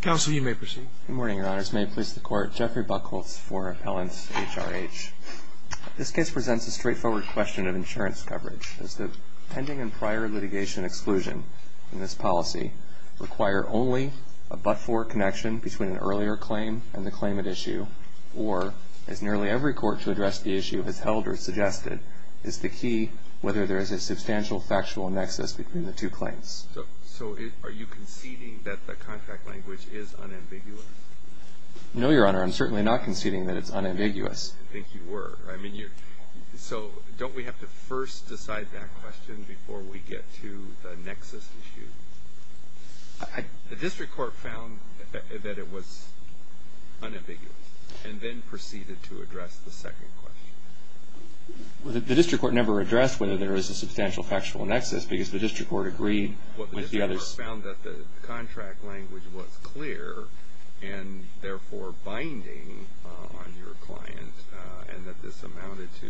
Counsel, you may proceed. Good morning, Your Honors. May it please the Court? Jeffrey Buchholz for Helens HRH. This case presents a straightforward question of insurance coverage. Does the pending and prior litigation exclusion in this policy require only a but-for connection between an earlier claim and the claimant issue, or, as nearly every court to address the issue has held or suggested, is the key whether there is a substantial factual nexus between the two claims? So are you conceding that the contract language is unambiguous? No, Your Honor. I'm certainly not conceding that it's unambiguous. I think you were. So don't we have to first decide that question before we get to the nexus issue? The district court found that it was unambiguous and then proceeded to address the second question. The district court never addressed whether there is a substantial factual nexus because the district court agreed with the others. Well, the district court found that the contract language was clear and therefore binding on your client and that this amounted to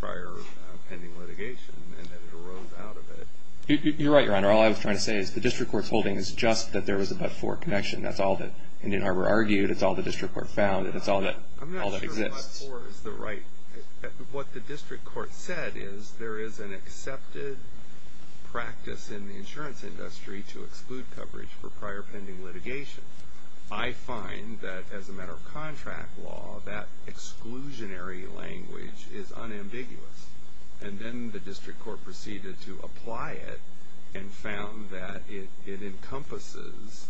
prior pending litigation and that it arose out of it. You're right, Your Honor. All I was trying to say is the district court's holding is just that there was a but-for connection. That's all that Indian Harbor argued. That's all the district court found. That's all that exists. I'm not sure that but-for is the right. What the district court said is there is an accepted practice in the insurance industry to exclude coverage for prior pending litigation. I find that as a matter of contract law, that exclusionary language is unambiguous. And then the district court proceeded to apply it and found that it encompasses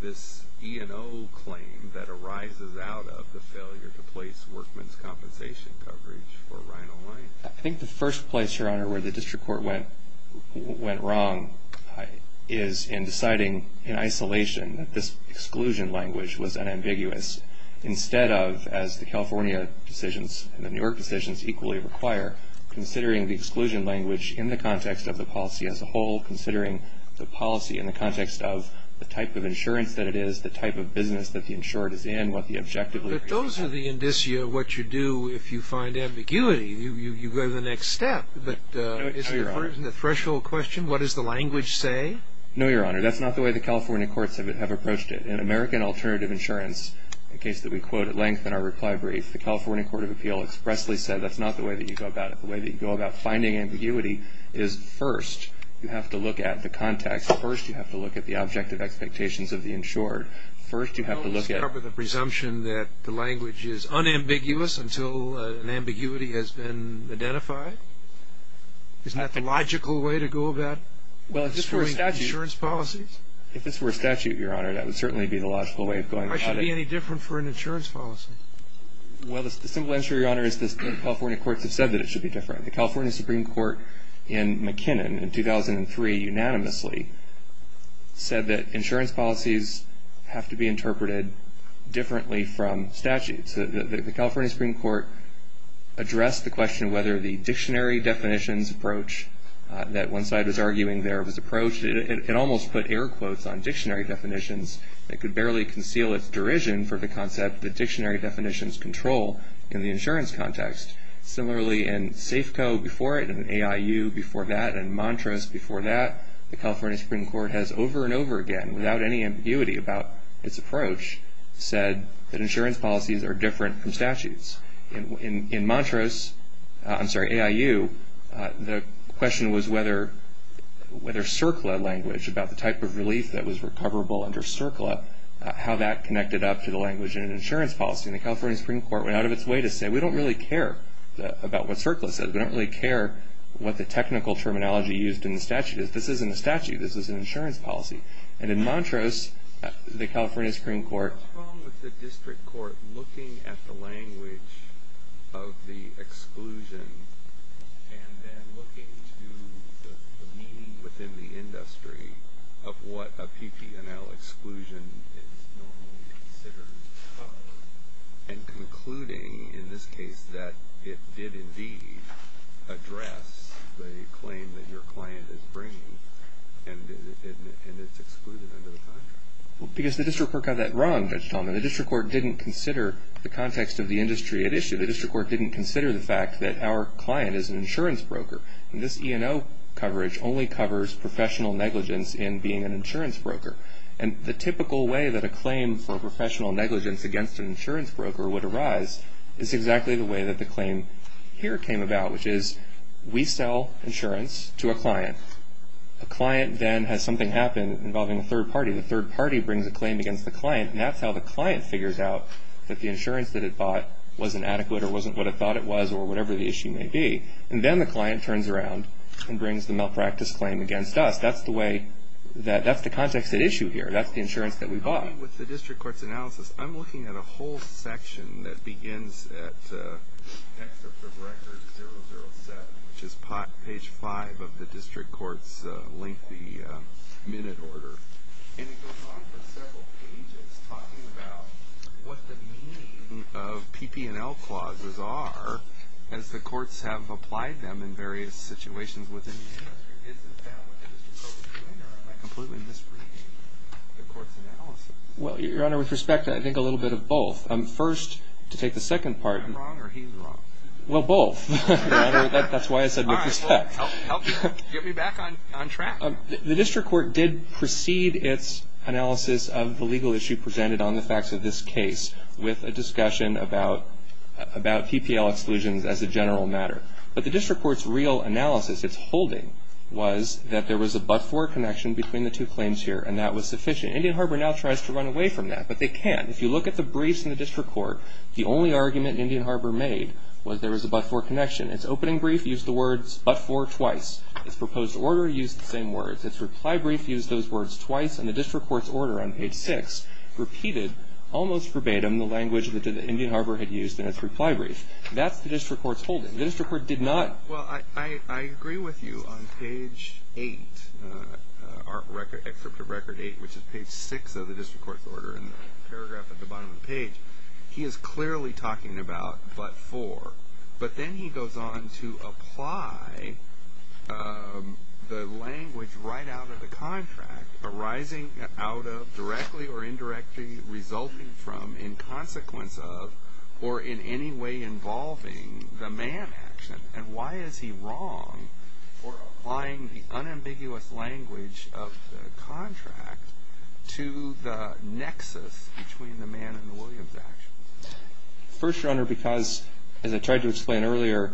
this E&O claim that arises out of the failure to place workman's compensation coverage for Ryan O'Leary. I think the first place, Your Honor, where the district court went wrong is in deciding in isolation that this exclusion language was unambiguous instead of, as the California decisions and the New York decisions equally require, considering the exclusion language in the context of the policy as a whole, considering the policy in the context of the type of insurance that it is, the type of business that the insured is in, what the objective is. But those are the indicia of what you do if you find ambiguity. You go to the next step. But isn't the threshold question what does the language say? No, Your Honor. That's not the way the California courts have approached it. In American Alternative Insurance, a case that we quote at length in our reply brief, the California Court of Appeal expressly said that's not the way that you go about it. The way that you go about finding ambiguity is first you have to look at the context. First you have to look at the objective expectations of the insured. First you have to look at the presumption that the language is unambiguous until an ambiguity has been identified. Isn't that the logical way to go about pursuing insurance policies? If this were a statute, Your Honor, that would certainly be the logical way of going about it. Why should it be any different for an insurance policy? Well, the simple answer, Your Honor, is the California courts have said that it should be different. The California Supreme Court in McKinnon in 2003 unanimously said that insurance policies have to be interpreted differently from statutes. The California Supreme Court addressed the question whether the dictionary definitions approach that one side was arguing there was approached. It almost put air quotes on dictionary definitions. It could barely conceal its derision for the concept that dictionary definitions control in the insurance context. Similarly, in Safeco before it, in AIU before that, in Montrose before that, the California Supreme Court has over and over again, without any ambiguity about its approach, said that insurance policies are different from statutes. In Montrose, I'm sorry, AIU, the question was whether CERCLA language about the type of relief that was recoverable under CERCLA, how that connected up to the language in an insurance policy. And the California Supreme Court went out of its way to say we don't really care about what CERCLA says. We don't really care what the technical terminology used in the statute is. This isn't a statute. This is an insurance policy. And in Montrose, the California Supreme Court. What's wrong with the district court looking at the language of the exclusion and then looking to the meaning within the industry of what a PPNL exclusion is normally considered? And concluding in this case that it did indeed address the claim that your client is bringing and it's excluded under the contract. Because the district court got that wrong, Judge Talman. The district court didn't consider the context of the industry at issue. The district court didn't consider the fact that our client is an insurance broker. And this E&O coverage only covers professional negligence in being an insurance broker. And the typical way that a claim for professional negligence against an insurance broker would arise is exactly the way that the claim here came about, which is we sell insurance to a client. A client then has something happen involving a third party. The third party brings a claim against the client. And that's how the client figures out that the insurance that it bought wasn't adequate or wasn't what it thought it was or whatever the issue may be. And then the client turns around and brings the malpractice claim against us. That's the way that the context at issue here. That's the insurance that we bought. With the district court's analysis, I'm looking at a whole section that begins at the record 007, which is page 5 of the district court's lengthy minute order. And it goes on for several pages talking about what the meaning of PPNL clauses are as the courts have applied them in various situations within the industry. Isn't that what the district court was doing? Or am I completely misreading the court's analysis? Well, Your Honor, with respect, I think a little bit of both. First, to take the second part. Am I wrong or he's wrong? Well, both. That's why I said with respect. Get me back on track. The district court did precede its analysis of the legal issue presented on the facts of this case with a discussion about PPL exclusions as a general matter. But the district court's real analysis, its holding, was that there was a but-for connection between the two claims here, and that was sufficient. Indian Harbor now tries to run away from that, but they can't. If you look at the briefs in the district court, the only argument Indian Harbor made was there was a but-for connection. Its opening brief used the words but-for twice. Its proposed order used the same words. Its reply brief used those words twice, and the district court's order on page 6 repeated, almost verbatim, the language that the Indian Harbor had used in its reply brief. That's the district court's holding. The district court did not. Well, I agree with you on page 8, excerpt from record 8, which is page 6 of the district court's order, and the paragraph at the bottom of the page. He is clearly talking about but-for, but then he goes on to apply the language right out of the contract arising out of, directly or indirectly resulting from, in consequence of, or in any way involving the man action. And why is he wrong for applying the unambiguous language of the contract to the nexus between the man and the Williams action? First, Your Honor, because, as I tried to explain earlier,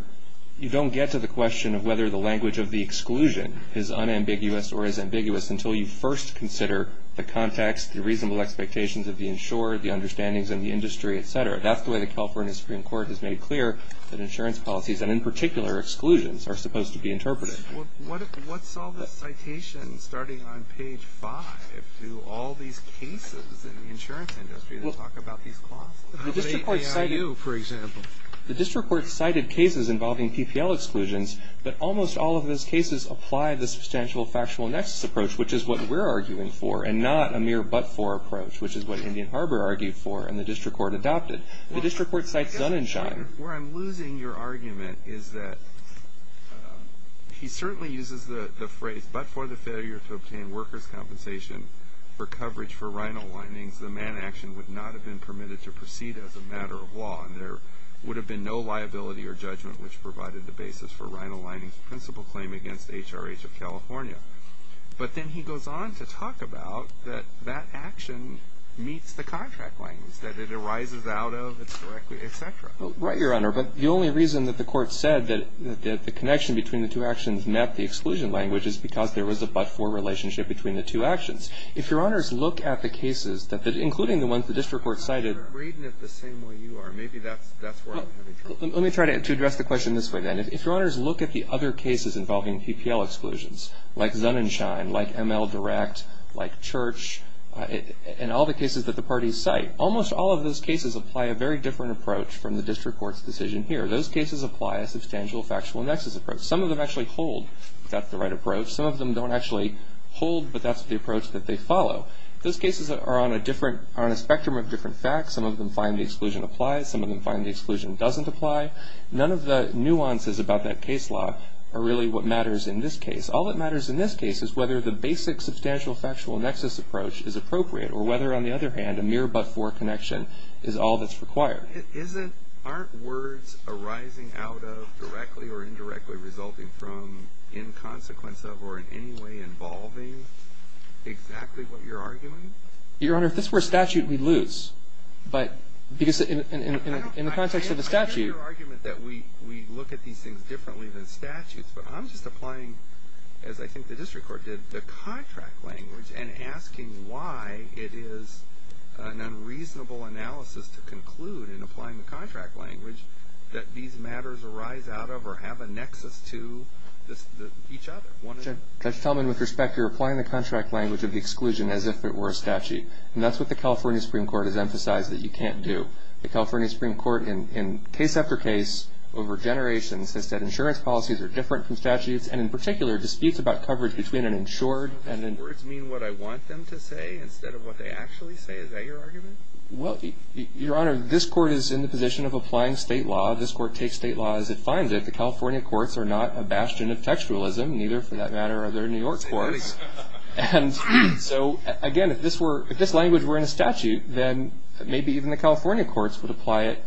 you don't get to the question of whether the language of the exclusion is unambiguous or is ambiguous until you first consider the context, the reasonable expectations of the insurer, the understandings in the industry, et cetera. That's the way the California Supreme Court has made clear that insurance policies, and in particular exclusions, are supposed to be interpreted. Well, what's all this citation starting on page 5 to all these cases in the insurance industry that talk about these clauses? The district court cited cases involving PPL exclusions, but almost all of those cases apply the substantial factual nexus approach, which is what we're arguing for, and not a mere but-for approach, which is what Indian Harbor argued for and the district court adopted. The district court cites Dunn and Schein. Where I'm losing your argument is that he certainly uses the phrase, but for the failure to obtain workers' compensation for coverage for rhino linings, the man action would not have been permitted to proceed as a matter of law, and there would have been no liability or judgment which provided the basis for rhino linings' principal claim against HRH of California. But then he goes on to talk about that that action meets the contract linings, that it arises out of, it's directly, et cetera. Right, Your Honor. But the only reason that the court said that the connection between the two actions met the exclusion language is because there was a but-for relationship between the two actions. If Your Honors look at the cases, including the ones the district court cited. I'm reading it the same way you are. Maybe that's where I'm having trouble. Let me try to address the question this way, then. If Your Honors look at the other cases involving PPL exclusions, like Dunn and Schein, like ML Direct, like Church, and all the cases that the parties cite, almost all of those cases apply a very different approach from the district court's decision here. Those cases apply a substantial factual nexus approach. Some of them actually hold that's the right approach. Some of them don't actually hold, but that's the approach that they follow. Those cases are on a spectrum of different facts. Some of them find the exclusion applies. Some of them find the exclusion doesn't apply. None of the nuances about that case law are really what matters in this case. All that matters in this case is whether the basic substantial factual nexus approach is appropriate, or whether, on the other hand, a mere but-for connection is all that's required. Aren't words arising out of, directly or indirectly, resulting from, in consequence of, or in any way involving exactly what you're arguing? Your Honor, if this were a statute, we'd lose. Because in the context of the statute — I understand your argument that we look at these things differently than statutes, but I'm just applying, as I think the district court did, the contract language and asking why it is an unreasonable analysis to conclude, in applying the contract language, that these matters arise out of or have a nexus to each other. Judge Talman, with respect, you're applying the contract language of the exclusion as if it were a statute. And that's what the California Supreme Court has emphasized that you can't do. The California Supreme Court, in case after case over generations, has said insurance policies are different from statutes, and in particular disputes about coverage between an insured and an — Don't the words mean what I want them to say instead of what they actually say? Is that your argument? Well, Your Honor, this Court is in the position of applying state law. This Court takes state law as it finds it. The California courts are not a bastion of textualism. Neither, for that matter, are there New York courts. And so, again, if this language were in a statute, then maybe even the California courts would apply it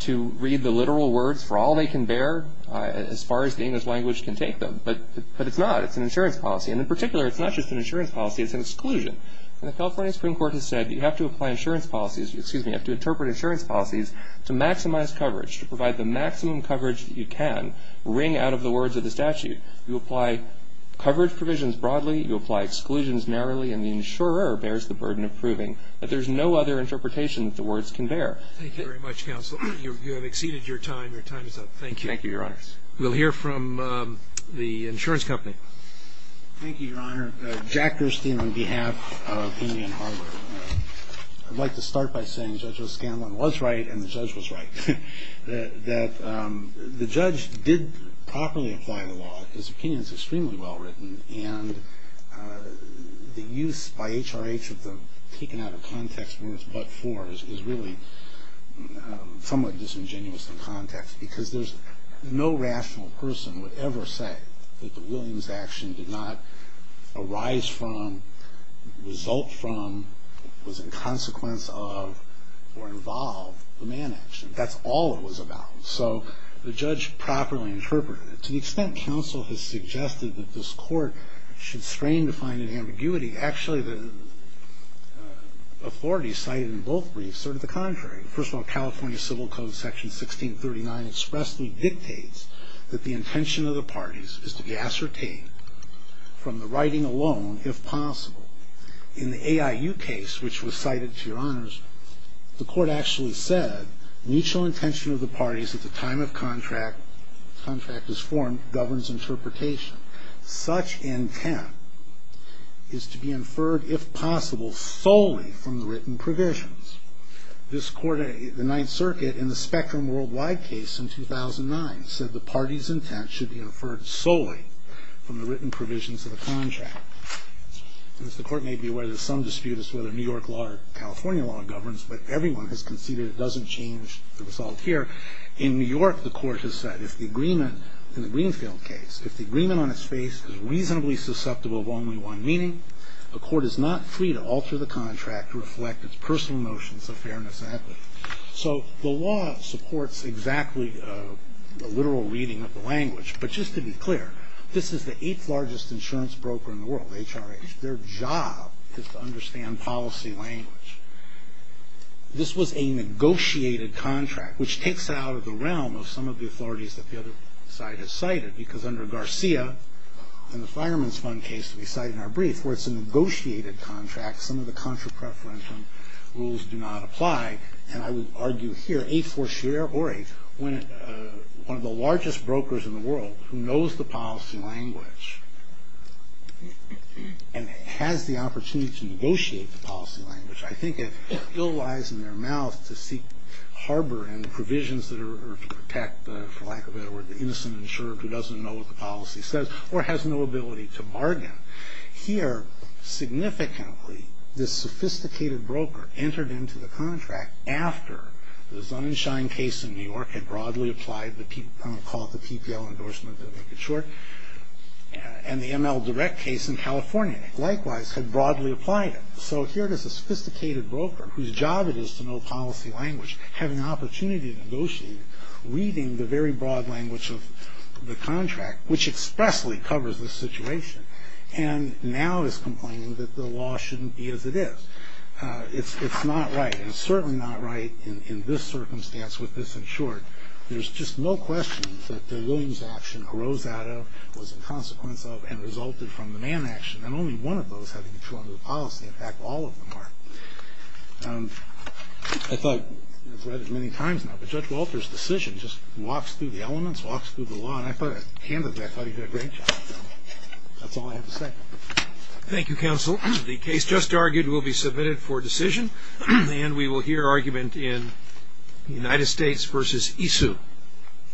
to read the literal words for all they can bear, as far as the English language can take them. But it's not. It's an insurance policy. And in particular, it's not just an insurance policy. It's an exclusion. And the California Supreme Court has said that you have to apply insurance policies — excuse me, you have to interpret insurance policies to maximize coverage, to provide the maximum coverage that you can wring out of the words of the statute. You apply coverage provisions broadly. You apply exclusions narrowly. And the insurer bears the burden of proving that there's no other interpretation that the words can bear. Thank you very much, counsel. You have exceeded your time. Your time is up. Thank you. Thank you, Your Honor. We'll hear from the insurance company. Thank you, Your Honor. Jack Gerstein on behalf of Indian Harbor. I'd like to start by saying Judge O'Scanlan was right and the judge was right, that the judge did properly apply the law. His opinion is extremely well written. And the use by HRH of the taken-out-of-context words but for is really somewhat disingenuous in context, because there's no rational person would ever say that the Williams action did not arise from, result from, was in consequence of, or involve the Mann action. That's all it was about. So the judge properly interpreted it. To the extent counsel has suggested that this Court should strain to find an ambiguity, actually the authorities cited in both briefs are to the contrary. First of all, California Civil Code Section 1639 expressly dictates that the intention of the parties is to be ascertained from the writing alone if possible. In the AIU case, which was cited to Your Honors, the Court actually said mutual intention of the parties at the time of contract, contract is formed, governs interpretation. Such intent is to be inferred if possible solely from the written provisions. This Court, the Ninth Circuit, in the Spectrum Worldwide case in 2009, said the party's intent should be inferred solely from the written provisions of the contract. As the Court may be aware, there's some dispute as to whether New York law or California law governs, but everyone has conceded it doesn't change the result here. In New York, the Court has said if the agreement, in the Greenfield case, if the agreement on its face is reasonably susceptible of only one meaning, a court is not free to alter the contract to reflect its personal notions of fairness and equity. So the law supports exactly the literal reading of the language, but just to be clear, this is the eighth largest insurance broker in the world, HRH. Their job is to understand policy language. This was a negotiated contract, which takes it out of the realm of some of the authorities that the other side has cited, because under Garcia, in the Fireman's Fund case that we cite in our brief, where it's a negotiated contract, some of the contra-preferential rules do not apply, and I would argue here a four-share or a one of the largest brokers in the world who knows the policy language and has the opportunity to negotiate the policy language, I think it still lies in their mouth to seek harbor and provisions that are to protect, for lack of a better word, the innocent insurer who doesn't know what the policy says or has no ability to bargain. Here, significantly, this sophisticated broker entered into the contract after the Sunshine case in New York had broadly applied, I'm going to call it the PPL endorsement to make it short, and the ML Direct case in California likewise had broadly applied it. So here it is, a sophisticated broker whose job it is to know policy language, have an opportunity to negotiate, reading the very broad language of the contract, which expressly covers the situation, and now is complaining that the law shouldn't be as it is. It's not right, and it's certainly not right in this circumstance with this insured. There's just no question that the Williams action arose out of, was a consequence of, and resulted from the Mann action, and only one of those had a control over the policy. In fact, all of them are. I thought, I've read it many times now, but Judge Walter's decision just walks through the elements, walks through the law, and I thought, candidly, I thought he did a great job. That's all I have to say. Thank you, Counsel. The case just argued will be submitted for decision, and we will hear argument in United States v. Isu.